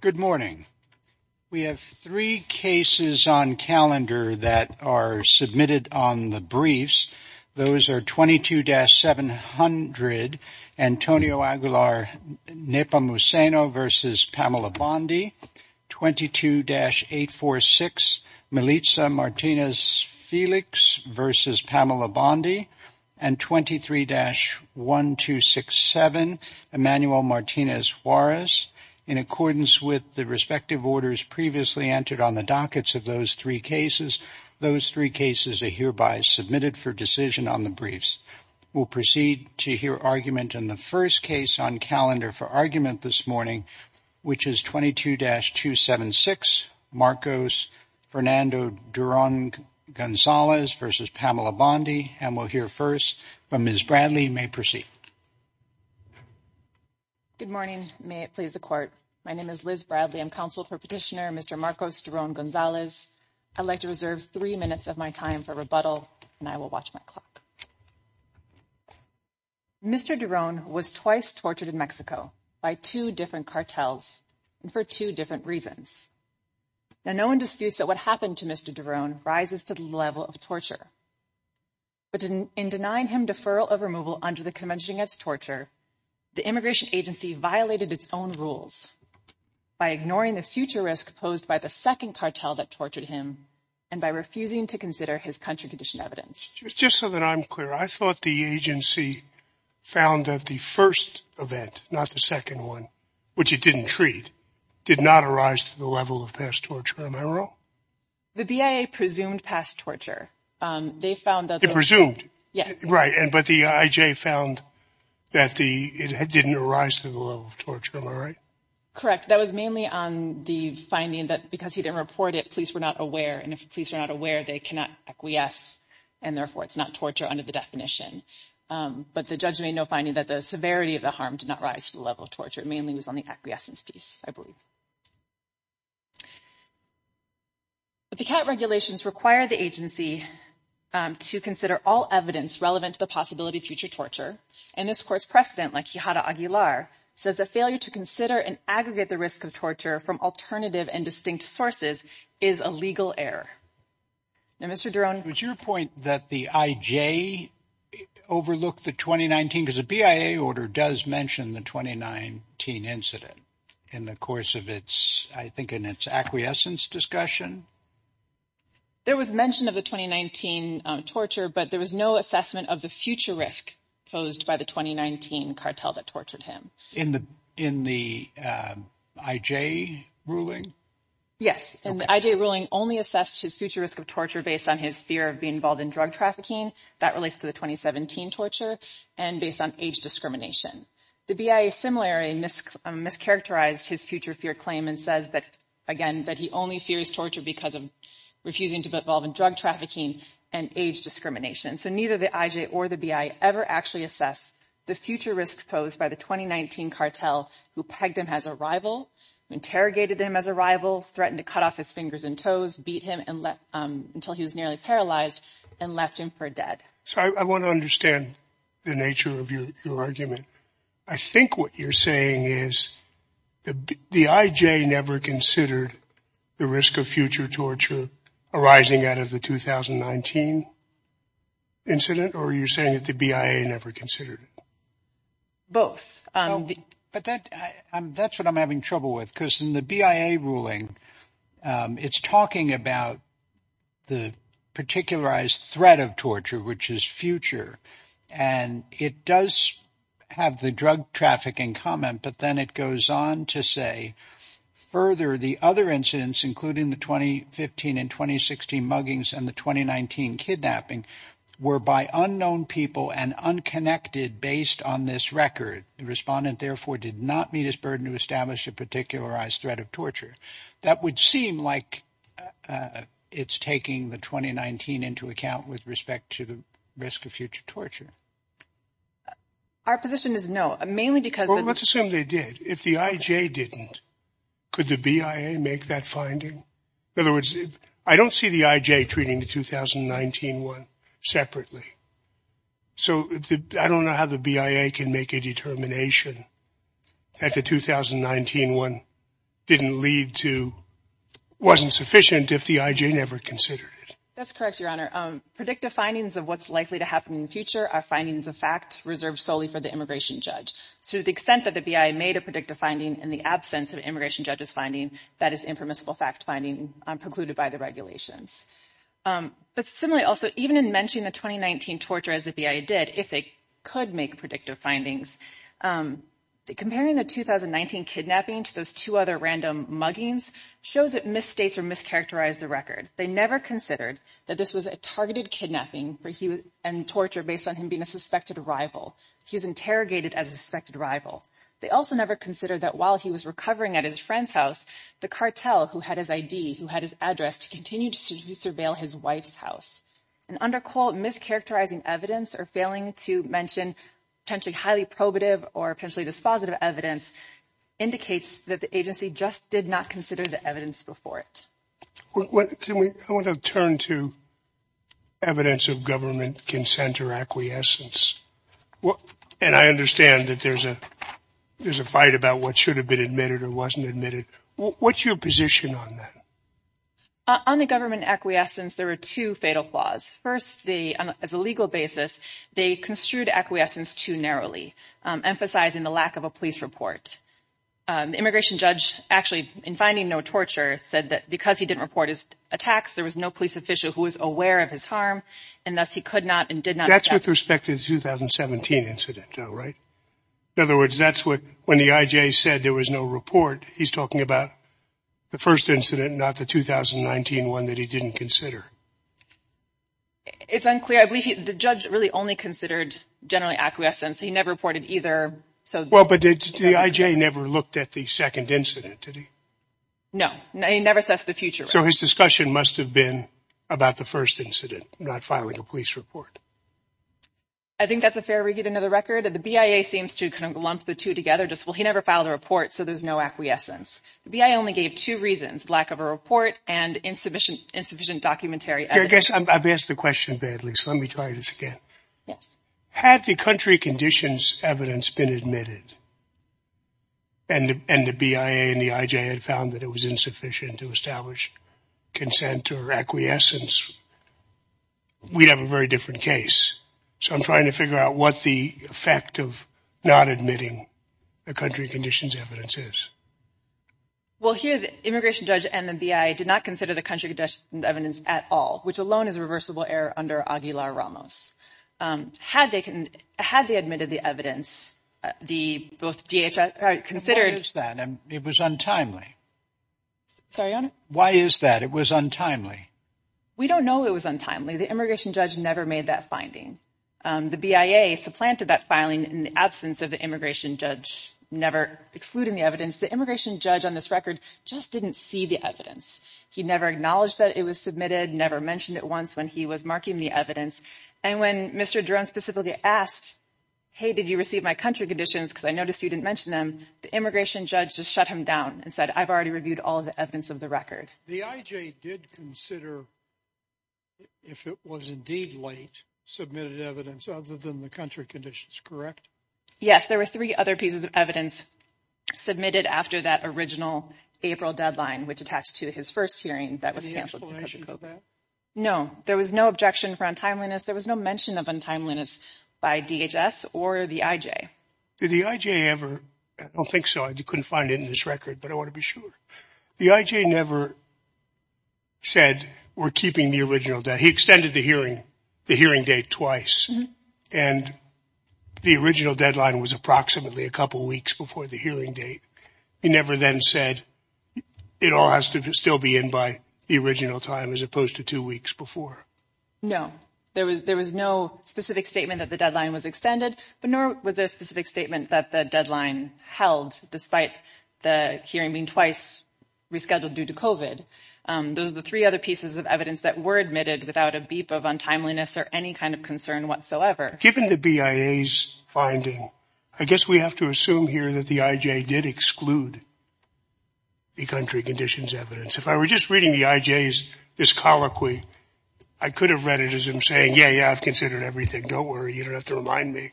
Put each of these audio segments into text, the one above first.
Good morning. We have three cases on calendar that are submitted on the briefs. Those are 22-700 Antonio Aguilar Nepomuceno v. Pamela Bondi, 22-846 Melitza Martinez-Felix v. Pamela Bondi, and 23-1267 Emmanuel Martinez-Juarez. In accordance with the respective orders previously entered on the dockets of those three cases, those three cases are hereby submitted for decision on the briefs. We'll proceed to hear argument in the first case on calendar for argument this morning, which is 22-276 Marcos Fernando Duran Gonzalez v. Pamela Bondi, and we'll hear first from Ms. Bradley. You may proceed. Good morning. May it please the court. My name is Liz Bradley. I'm counsel for petitioner Mr. Marcos Duran Gonzalez. I'd like to reserve three minutes of my time for rebuttal, and I will watch my clock. Mr. Duran was twice tortured in Mexico by two different cartels and for two different reasons. Now, no one disputes that what happened to Mr. Duran rises to the level of torture, but in denying him deferral of removal under the convention against torture, the immigration agency violated its own rules by ignoring the future risk posed by the second cartel that tortured him and by refusing to consider his country-conditioned evidence. Just so that I'm clear, I thought the agency found that the first event, not the second one, which it didn't treat, did not arise to the level of past torture. Am I wrong? The BIA presumed past torture. They found that the – It presumed? Yes. Right, but the IJ found that it didn't arise to the level of torture. Am I right? Correct. That was mainly on the finding that because he didn't report it, police were not aware, and if police are not aware, they cannot acquiesce, and therefore it's not torture under the definition. But the judge made no finding that the severity of the harm did not rise to the level of torture. It mainly was on the acquiescence piece, I believe. But the CAT regulations require the agency to consider all evidence relevant to the possibility of future torture, and this court's precedent, like Quijada Aguilar, says that failure to consider and aggregate the risk of torture from alternative and distinct sources is a legal error. Now, Mr. Drone – Was your point that the IJ overlooked the 2019 – because the BIA order does mention the 2019 incident in the course of its – I think in its acquiescence discussion? There was mention of the 2019 torture, but there was no assessment of the future risk posed by the 2019 cartel that tortured him. In the IJ ruling? Yes. And the IJ ruling only assessed his future risk of torture based on his fear of being involved in drug trafficking – that relates to the 2017 torture – and based on age discrimination. The BIA similarly mischaracterized his future fear claim and says that, again, that he only fears torture because of refusing to be involved in drug trafficking and age discrimination. So neither the IJ or the BIA ever actually assessed the future risk posed by the 2019 cartel who pegged him as a rival, interrogated him as a rival, threatened to cut off his fingers and toes, beat him until he was nearly paralyzed, and left him for dead. So I want to understand the nature of your argument. I think what you're saying is the IJ never considered the risk of future torture arising out of the 2019 incident, or are you saying that the BIA never considered it? Both. But that's what I'm having trouble with, because in the BIA ruling, it's talking about the particularized threat of torture, which is future, and it does have the drug trafficking comment, but then it goes on to say, Further, the other incidents, including the 2015 and 2016 muggings and the 2019 kidnapping, were by unknown people and unconnected based on this record. The respondent, therefore, did not meet his burden to establish a particularized threat of torture. That would seem like it's taking the 2019 into account with respect to the risk of future torture. Our position is no, mainly because – That's what they did. If the IJ didn't, could the BIA make that finding? In other words, I don't see the IJ treating the 2019 one separately. So I don't know how the BIA can make a determination that the 2019 one didn't lead to – wasn't sufficient if the IJ never considered it. That's correct, Your Honor. Predictive findings of what's likely to happen in the future are findings of fact reserved solely for the immigration judge. So to the extent that the BIA made a predictive finding in the absence of an immigration judge's finding, that is impermissible fact finding precluded by the regulations. But similarly, also, even in mentioning the 2019 torture as the BIA did, if they could make predictive findings, comparing the 2019 kidnapping to those two other random muggings shows it misstates or mischaracterized the record. They never considered that this was a targeted kidnapping and torture based on him being a suspected rival. He was interrogated as a suspected rival. They also never considered that while he was recovering at his friend's house, the cartel who had his ID, who had his address, to continue to surveil his wife's house. And under quote, mischaracterizing evidence or failing to mention potentially highly probative or potentially dispositive evidence indicates that the agency just did not consider the evidence before it. I want to turn to evidence of government consent or acquiescence. And I understand that there's a there's a fight about what should have been admitted or wasn't admitted. What's your position on that? On the government acquiescence, there are two fatal flaws. First, the as a legal basis, they construed acquiescence too narrowly, emphasizing the lack of a police report. The immigration judge actually in finding no torture said that because he didn't report his attacks, there was no police official who was aware of his harm and thus he could not and did not. That's with respect to the 2017 incident, right? In other words, that's when the IJ said there was no report. He's talking about the first incident, not the 2019 one that he didn't consider. It's unclear. I believe the judge really only considered generally acquiescence. He never reported either. Well, but the IJ never looked at the second incident, did he? No, no, he never says the future. So his discussion must have been about the first incident, not filing a police report. I think that's a fair read. Another record of the BIA seems to kind of lump the two together. Just well, he never filed a report. So there's no acquiescence. The BIA only gave two reasons, lack of a report and insufficient, insufficient documentary evidence. I guess I've asked the question badly, so let me try this again. Yes. Had the country conditions evidence been admitted. And the BIA and the IJ had found that it was insufficient to establish consent or acquiescence. We have a very different case. So I'm trying to figure out what the effect of not admitting the country conditions evidence is. Well, here, the immigration judge and the BIA did not consider the country evidence at all, which alone is a reversible error under Aguilar Ramos. Had they had they admitted the evidence, the both DHS considered that it was untimely. So why is that it was untimely? We don't know. It was untimely. The immigration judge never made that finding. The BIA supplanted that filing in the absence of the immigration judge, never excluding the evidence. The immigration judge on this record just didn't see the evidence. He never acknowledged that it was submitted, never mentioned it once when he was marking the evidence. And when Mr. Jones specifically asked, hey, did you receive my country conditions? Because I noticed you didn't mention them. The immigration judge just shut him down and said, I've already reviewed all of the evidence of the record. The IJ did consider. If it was indeed late submitted evidence other than the country conditions, correct? Yes, there were three other pieces of evidence submitted after that original April deadline, which attached to his first hearing that was canceled. No, there was no objection for untimeliness. There was no mention of untimeliness by DHS or the IJ. Did the IJ ever? I don't think so. I couldn't find it in this record, but I want to be sure the IJ never. Said we're keeping the original that he extended the hearing, the hearing date twice, and the original deadline was approximately a couple of weeks before the hearing date. He never then said it all has to still be in by the original time as opposed to two weeks before. No, there was there was no specific statement that the deadline was extended, but nor was there a specific statement that the deadline held despite the hearing being twice rescheduled due to covid. Those are the three other pieces of evidence that were admitted without a beep of untimeliness or any kind of concern whatsoever. Given the BIA's finding, I guess we have to assume here that the IJ did exclude. The country conditions evidence, if I were just reading the IJs, this colloquy, I could have read it as him saying, yeah, yeah, I've considered everything. Don't worry, you don't have to remind me.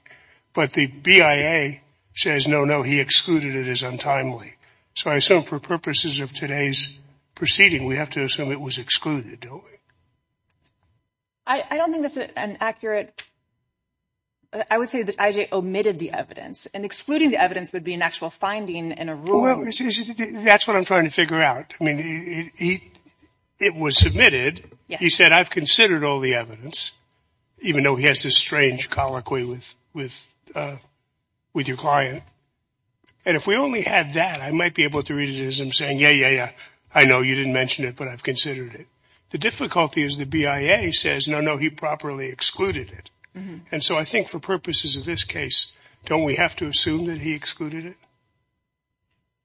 But the BIA says, no, no, he excluded it is untimely. So I assume for purposes of today's proceeding, we have to assume it was excluded. I don't think that's an accurate. I would say that IJ omitted the evidence and excluding the evidence would be an actual finding in a room. That's what I'm trying to figure out. I mean, it was submitted. He said, I've considered all the evidence, even though he has this strange colloquy with with with your client. And if we only had that, I might be able to read it as I'm saying, yeah, yeah, yeah, I know you didn't mention it, but I've considered it. The difficulty is the BIA says, no, no, he properly excluded it. And so I think for purposes of this case, don't we have to assume that he excluded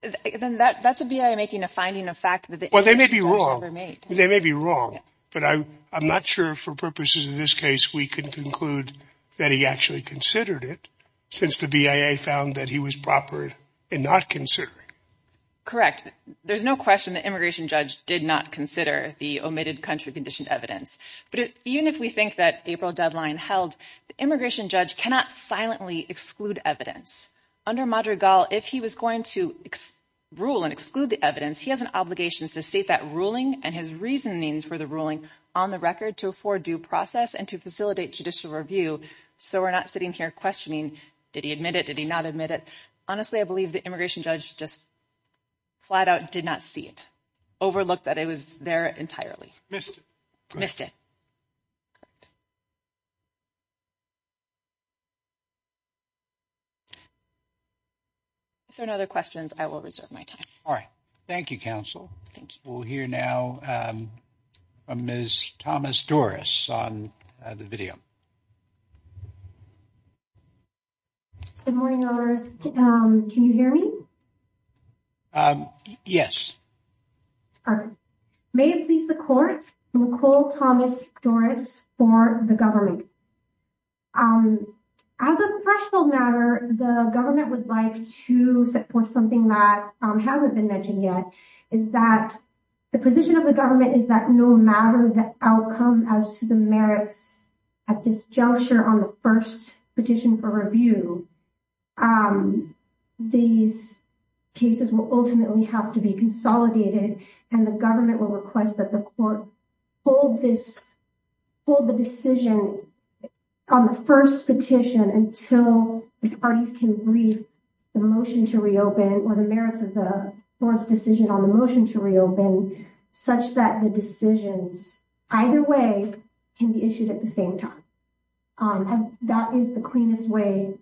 it? Then that's a BIA making a finding of fact that they may be wrong. They may be wrong, but I'm not sure for purposes of this case. We can conclude that he actually considered it since the BIA found that he was proper and not considering. Correct. There's no question the immigration judge did not consider the omitted country conditioned evidence. But even if we think that April deadline held, the immigration judge cannot silently exclude evidence under Madrigal. If he was going to rule and exclude the evidence, he has an obligation to state that ruling and his reasoning for the ruling on the record to afford due process and to facilitate judicial review. So we're not sitting here questioning. Did he admit it? Did he not admit it? Honestly, I believe the immigration judge just flat out did not see it. Overlooked that it was there entirely. Missed it. Missed it. If there are other questions, I will reserve my time. All right. Thank you, counsel. We'll hear now from Miss Thomas Doris on the video. Good morning. Can you hear me? Yes. May it please the court. Nicole Thomas Doris for the government. As a threshold matter, the government would like to support something that hasn't been mentioned yet, is that the position of the government is that no matter the outcome as to the merits at this juncture on the first petition for review, these cases will ultimately have to be consolidated and the government will request that the court hold this, hold the decision on the first petition until the parties can read the motion to reopen or the merits of the court's decision on the motion to reopen such that the decisions either way can be issued at the same time. That is the cleanest way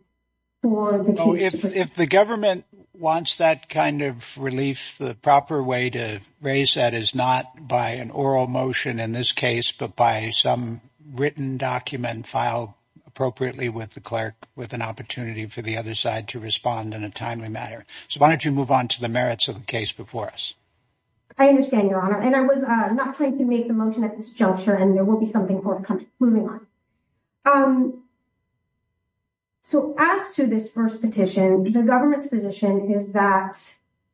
for if the government wants that kind of relief, the proper way to raise that is not by an oral motion in this case, but by some written document filed appropriately with the clerk with an opportunity for the other side to respond in a timely matter. So why don't you move on to the merits of the case before us? I understand, Your Honor. And I was not trying to make the motion at this juncture and there will be something for moving on. So as to this first petition, the government's position is that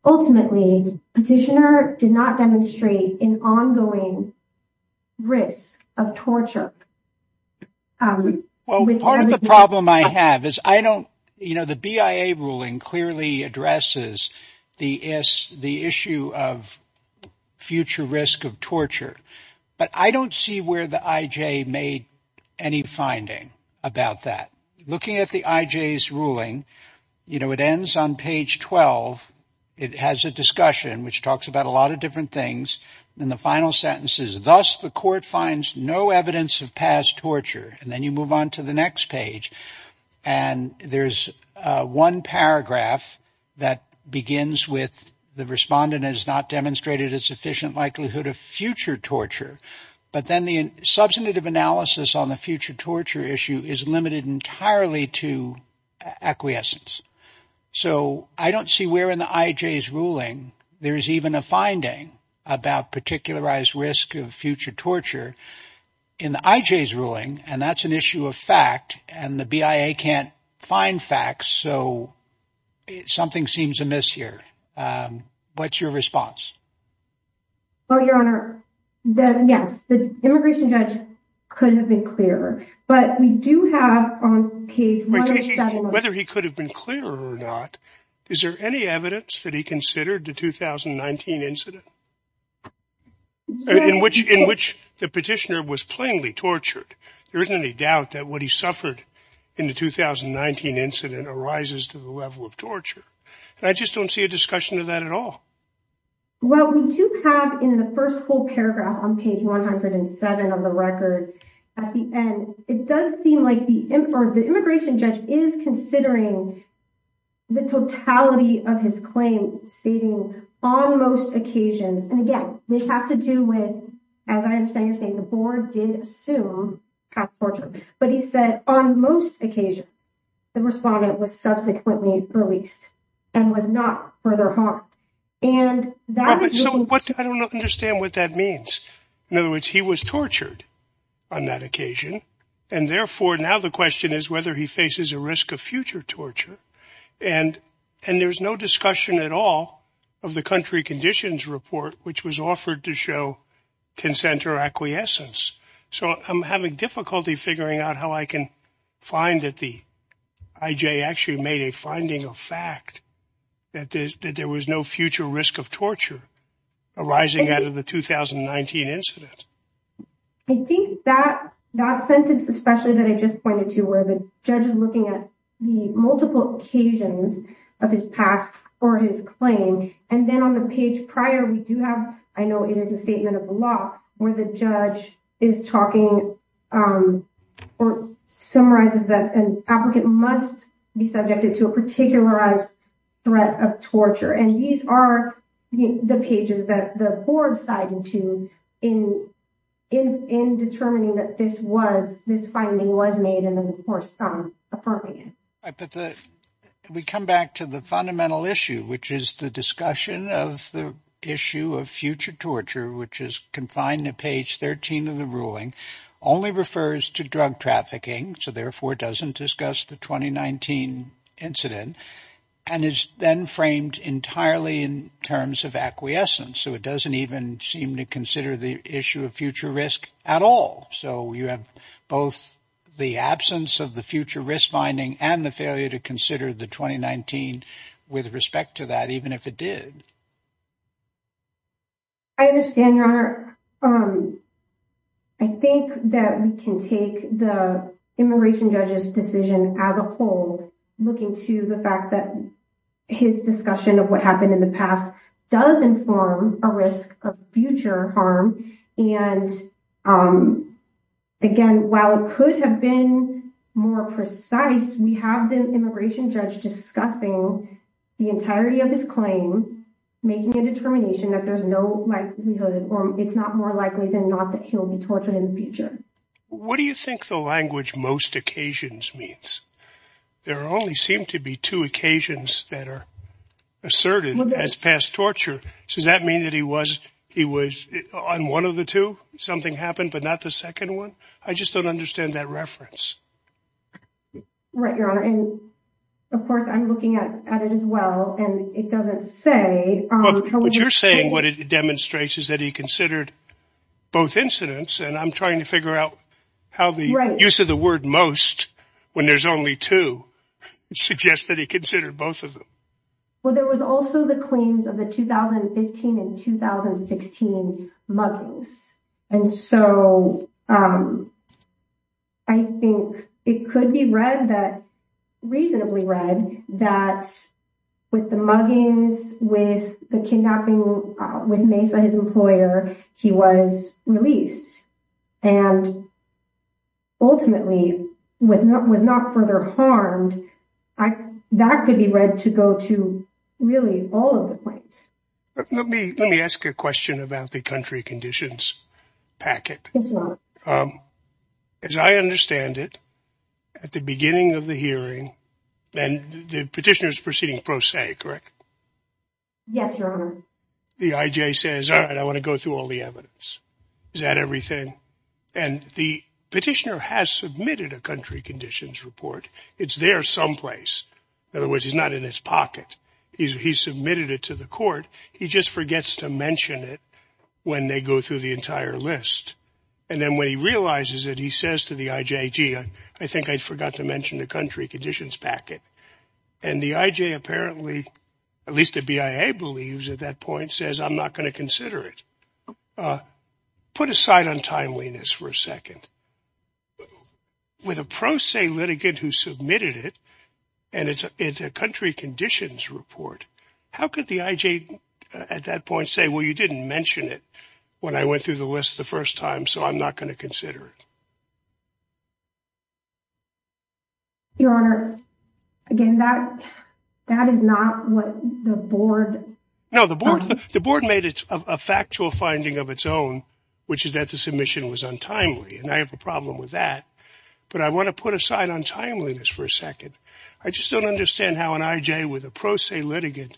ultimately petitioner did not demonstrate an ongoing risk of torture. Well, part of the problem I have is I don't you know, the BIA ruling clearly addresses the issue of future risk of torture, but I don't see where the IJ made any finding about that. Looking at the IJ's ruling, you know, it ends on page 12. It has a discussion which talks about a lot of different things. And the final sentence is thus, the court finds no evidence of past torture. And then you move on to the next page and there's one paragraph that begins with the respondent has not demonstrated a sufficient likelihood of future torture. But then the substantive analysis on the future torture issue is limited entirely to acquiescence. So I don't see where in the IJ's ruling there is even a finding about particularized risk of future torture in the IJ's ruling. And that's an issue of fact. And the BIA can't find facts. So something seems amiss here. What's your response? Well, Your Honor, yes, the immigration judge could have been clearer. But we do have on page whether he could have been clearer or not. Is there any evidence that he considered the 2019 incident in which in which the petitioner was plainly tortured? There isn't any doubt that what he suffered in the 2019 incident arises to the level of torture. And I just don't see a discussion of that at all. Well, we do have in the first whole paragraph on page 107 of the record at the end, it does seem like the immigration judge is considering the totality of his claim stating on most occasions. And again, this has to do with, as I understand you're saying, the board did assume past torture. But he said on most occasions the respondent was subsequently released and was not further harmed. And that's what I don't understand what that means. In other words, he was tortured on that occasion. And therefore, now the question is whether he faces a risk of future torture. And and there's no discussion at all of the country conditions report, which was offered to show consent or acquiescence. So I'm having difficulty figuring out how I can find that the I.J. actually made a finding of fact that there was no future risk of torture arising out of the 2019 incident. I think that that sentence, especially that I just pointed to where the judge is looking at the multiple occasions of his past or his claim. And then on the page prior, we do have I know it is a statement of the law where the judge is talking or summarizes that an applicant must be subjected to a particularized threat of torture. And these are the pages that the board sided to in in in determining that this was this finding was made. And then, of course, some affirming it. But we come back to the fundamental issue, which is the discussion of the issue of future torture, which is confined to page 13 of the ruling only refers to drug trafficking. So therefore, it doesn't discuss the 2019 incident and is then framed entirely in terms of acquiescence. So it doesn't even seem to consider the issue of future risk at all. So you have both the absence of the future risk finding and the failure to consider the 2019 with respect to that, even if it did. I understand. I think that we can take the immigration judge's decision as a whole, looking to the fact that his discussion of what happened in the past does inform a risk of future harm. And again, while it could have been more precise, we have the immigration judge discussing the entirety of his claim, making a determination that there's no likelihood it's not more likely than not that he'll be tortured in the future. What do you think the language most occasions means? There only seem to be two occasions that are asserted as past torture. So does that mean that he was he was on one of the two? Something happened, but not the second one. I just don't understand that reference. Right, Your Honor. And of course, I'm looking at it as well. And it doesn't say what you're saying. What it demonstrates is that he considered both incidents. And I'm trying to figure out how the use of the word most when there's only two suggests that he considered both of them. Well, there was also the claims of the 2015 and 2016 muggings. And so I think it could be read that reasonably read that with the muggings, with the kidnapping, with Mesa, his employer, he was released. And. Ultimately, when that was not further harmed, that could be read to go to really all of the points. Let me let me ask a question about the country conditions packet. As I understand it, at the beginning of the hearing, then the petitioners proceeding pro se, correct? Yes, Your Honor. The IJ says, all right, I want to go through all the evidence. Is that everything? And the petitioner has submitted a country conditions report. It's there someplace. In other words, he's not in his pocket. He's he's submitted it to the court. He just forgets to mention it when they go through the entire list. And then when he realizes it, he says to the IJ, gee, I think I forgot to mention the country conditions packet. And the IJ apparently, at least the BIA believes at that point, says, I'm not going to consider it. Put aside on timeliness for a second. With a pro se litigant who submitted it and it's a country conditions report. How could the IJ at that point say, well, you didn't mention it when I went through the list the first time. So I'm not going to consider it. Your Honor, again, that that is not what the board. No, the board, the board made it a factual finding of its own, which is that the submission was untimely. And I have a problem with that. But I want to put aside on timeliness for a second. I just don't understand how an IJ with a pro se litigant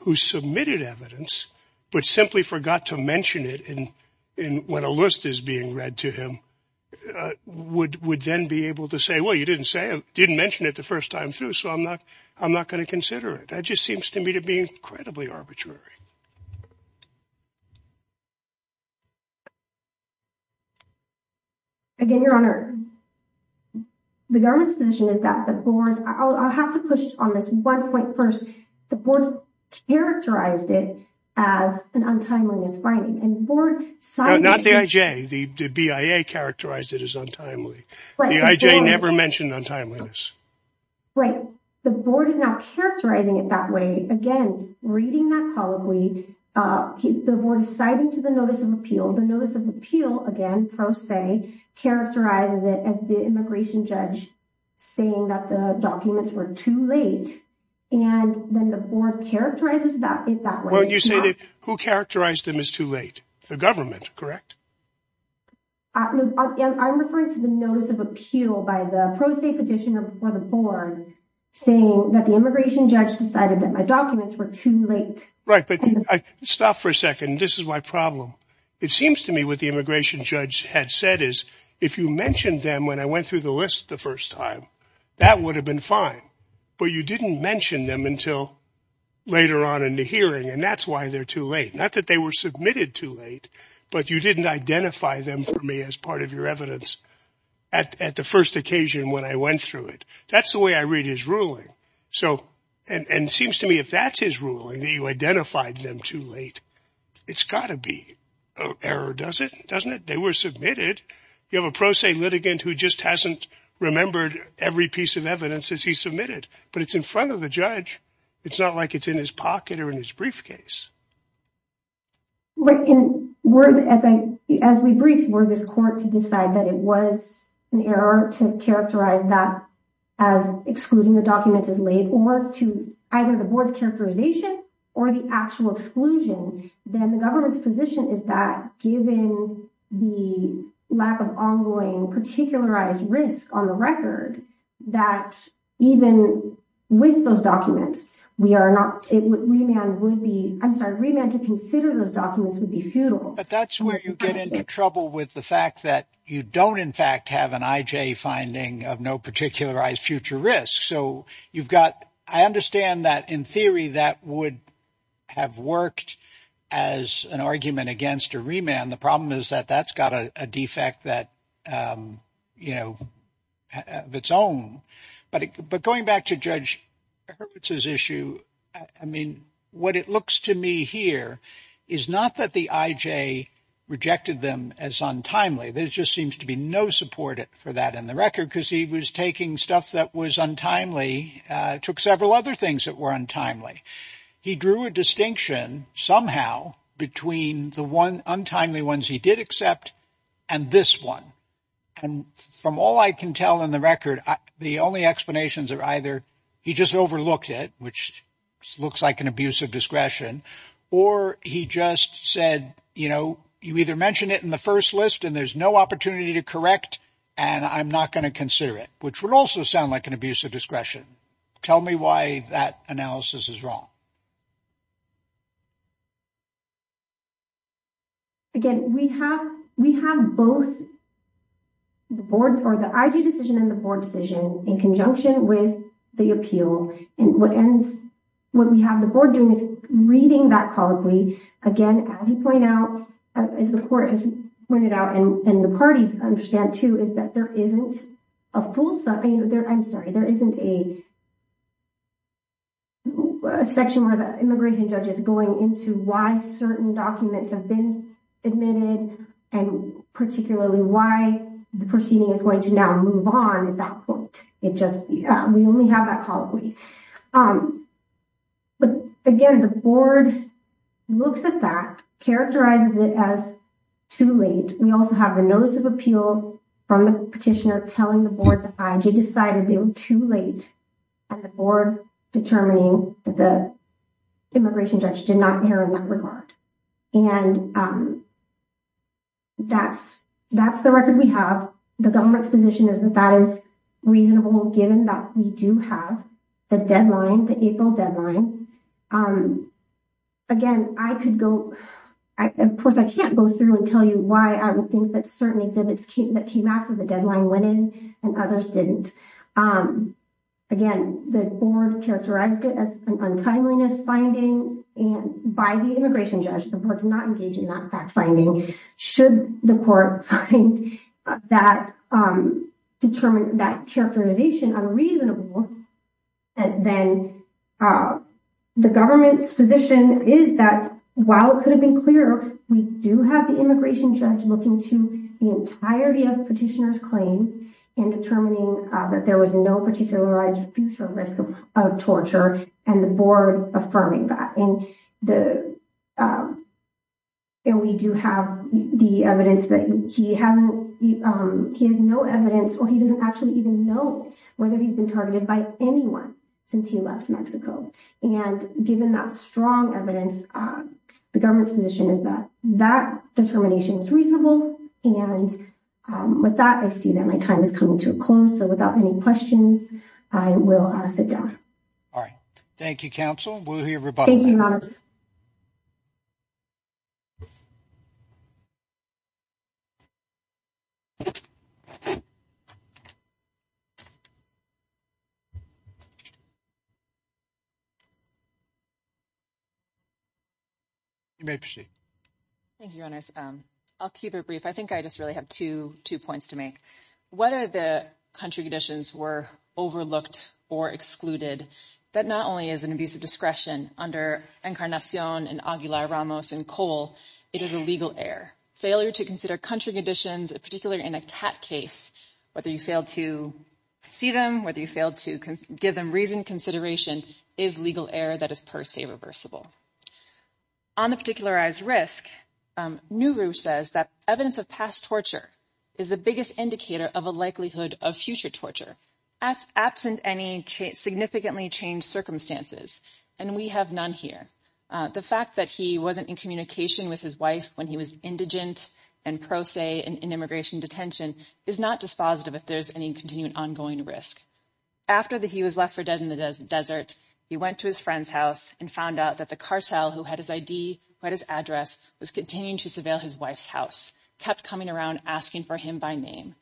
who submitted evidence, but simply forgot to mention it in when a list is being read to him would would then be able to say, well, you didn't say it, didn't mention it the first time through. So I'm not I'm not going to consider it. That just seems to me to be incredibly arbitrary. Again, Your Honor, the government's position is that the board I'll have to push on this one point first. The board characterized it as an untimeliness finding and for not the IJ, the BIA characterized it as untimely. I never mentioned untimeliness. Right. The board is not characterizing it that way. Again, reading that colloquy, the board is citing to the notice of appeal. The notice of appeal, again, pro se, characterizes it as the immigration judge saying that the documents were too late. And then the board characterizes that in that way. Well, you say that who characterized them as too late? The government. Correct. I'm referring to the notice of appeal by the pro se petitioner for the board saying that the immigration judge decided that my documents were too late. Right. But stop for a second. This is my problem. It seems to me what the immigration judge had said is if you mentioned them when I went through the list the first time, that would have been fine. But you didn't mention them until later on in the hearing. And that's why they're too late, not that they were submitted too late. But you didn't identify them for me as part of your evidence at the first occasion when I went through it. That's the way I read his ruling. So and it seems to me if that's his ruling, you identified them too late. It's got to be error, does it? Doesn't it? They were submitted. You have a pro se litigant who just hasn't remembered every piece of evidence as he submitted. But it's in front of the judge. It's not like it's in his pocket or in his briefcase. But as we briefed, were this court to decide that it was an error to characterize that as excluding the documents as late or to either the board's characterization or the actual exclusion? Then the government's position is that given the lack of ongoing particularized risk on the record, that even with those documents, we are not. We would be I'm sorry, we meant to consider those documents would be futile. But that's where you get into trouble with the fact that you don't, in fact, have an IJ finding of no particularized future risk. So you've got I understand that in theory that would have worked as an argument against a remand. The problem is that that's got a defect that, you know, of its own. But but going back to Judge Hurwitz's issue, I mean, what it looks to me here is not that the IJ rejected them as untimely. There just seems to be no support for that in the record because he was taking stuff that was untimely, took several other things that were untimely. He drew a distinction somehow between the one untimely ones he did accept and this one. And from all I can tell in the record, the only explanations are either he just overlooked it, which looks like an abuse of discretion. Or he just said, you know, you either mentioned it in the first list and there's no opportunity to correct. And I'm not going to consider it, which would also sound like an abuse of discretion. Tell me why that analysis is wrong. Again, we have we have both. The board or the IJ decision and the board decision in conjunction with the appeal. And what ends what we have the board doing is reading that colloquy again, as you point out, as the court has pointed out, and the parties understand, too, is that there isn't a full, I'm sorry, there isn't a. Section where the immigration judge is going into why certain documents have been admitted and particularly why the proceeding is going to now move on at that point. It just we only have that colloquy. But again, the board looks at that, characterizes it as too late. We also have a notice of appeal from the petitioner telling the board that IJ decided they were too late. And the board determining that the immigration judge did not care in that regard. And that's that's the record we have. The government's position is that that is reasonable, given that we do have the deadline, the April deadline. Again, I could go. Of course, I can't go through and tell you why I would think that certain exhibits came that came after the deadline went in and others didn't. Again, the board characterized it as an untimeliness finding and by the immigration judge, the board's not engaging in that fact finding. Should the court find that determined that characterization unreasonable, then the government's position is that while it could have been clearer, we do have the immigration judge looking to the entirety of petitioner's claim in determining that there was no particularized future risk of torture and the board affirming that. And we do have the evidence that he hasn't he has no evidence or he doesn't actually even know whether he's been targeted by anyone since he left Mexico. And given that strong evidence, the government's position is that that determination is reasonable. And with that, I see that my time is coming to a close. So without any questions, I will sit down. All right. Thank you, counsel. We'll hear about. Thank you. Thank you. I'll keep it brief. I think I just really have to two points to make whether the country conditions were overlooked or excluded. That not only is an abuse of discretion under Encarnacion and Aguilar Ramos and Cole, it is a legal error. Failure to consider country conditions, particularly in a cat case, whether you fail to see them, whether you fail to give them reason consideration is legal error. That is, per se, reversible on a particularized risk. Nuru says that evidence of past torture is the biggest indicator of a likelihood of future torture at absent any significantly changed circumstances. And we have none here. The fact that he wasn't in communication with his wife when he was indigent and pro se in immigration detention is not dispositive. If there's any continuing ongoing risk after that, he was left for dead in the desert. He went to his friend's house and found out that the cartel who had his ID, read his address, was continuing to surveil his wife's house, kept coming around, asking for him by name.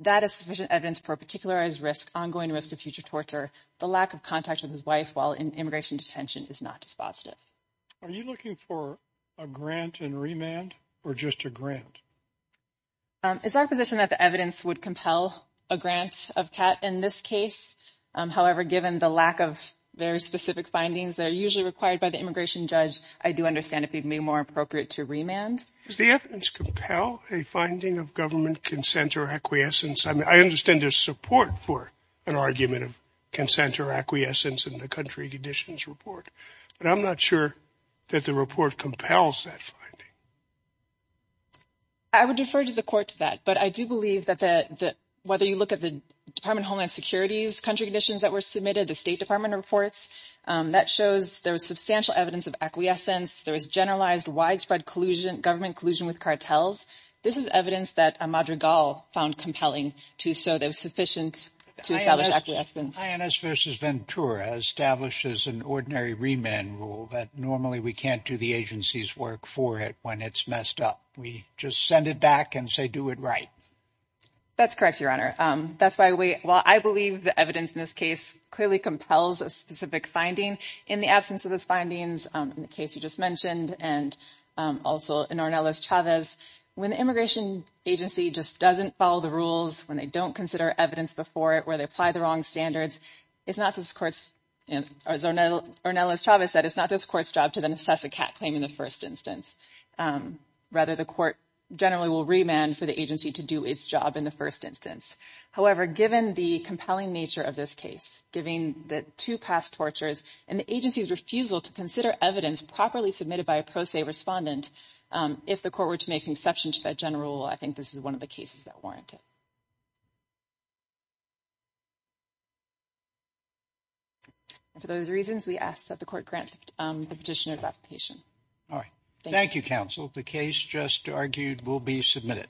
That is sufficient evidence for particularized risk, ongoing risk of future torture. The lack of contact with his wife while in immigration detention is not dispositive. Are you looking for a grant and remand or just a grant? It's our position that the evidence would compel a grant of cat in this case. However, given the lack of very specific findings that are usually required by the immigration judge, I do understand it being more appropriate to remand. Does the evidence compel a finding of government consent or acquiescence? I mean, I understand there's support for an argument of consent or acquiescence in the country conditions report. But I'm not sure that the report compels that finding. I would defer to the court to that. But I do believe that whether you look at the Department of Homeland Security's country conditions that were submitted, the State Department reports, that shows there was substantial evidence of acquiescence. There was generalized widespread collusion, government collusion with cartels. This is evidence that Madrigal found compelling to show there was sufficient to establish acquiescence. INS versus Ventura establishes an ordinary remand rule that normally we can't do the agency's work for it when it's messed up. We just send it back and say, do it right. That's correct, Your Honor. That's why we well, I believe the evidence in this case clearly compels a specific finding in the absence of those findings. In the case you just mentioned, and also in Ornelas-Chavez, when the immigration agency just doesn't follow the rules, when they don't consider evidence before it, where they apply the wrong standards. It's not this court's, as Ornelas-Chavez said, it's not this court's job to then assess a cat claim in the first instance. Rather, the court generally will remand for the agency to do its job in the first instance. However, given the compelling nature of this case, giving the two past tortures and the agency's refusal to consider evidence properly submitted by a pro se respondent, if the court were to make an exception to that general rule, I think this is one of the cases that warrant it. For those reasons, we ask that the court grant the petitioner's application. All right. Thank you, counsel. The case just argued will be submitted.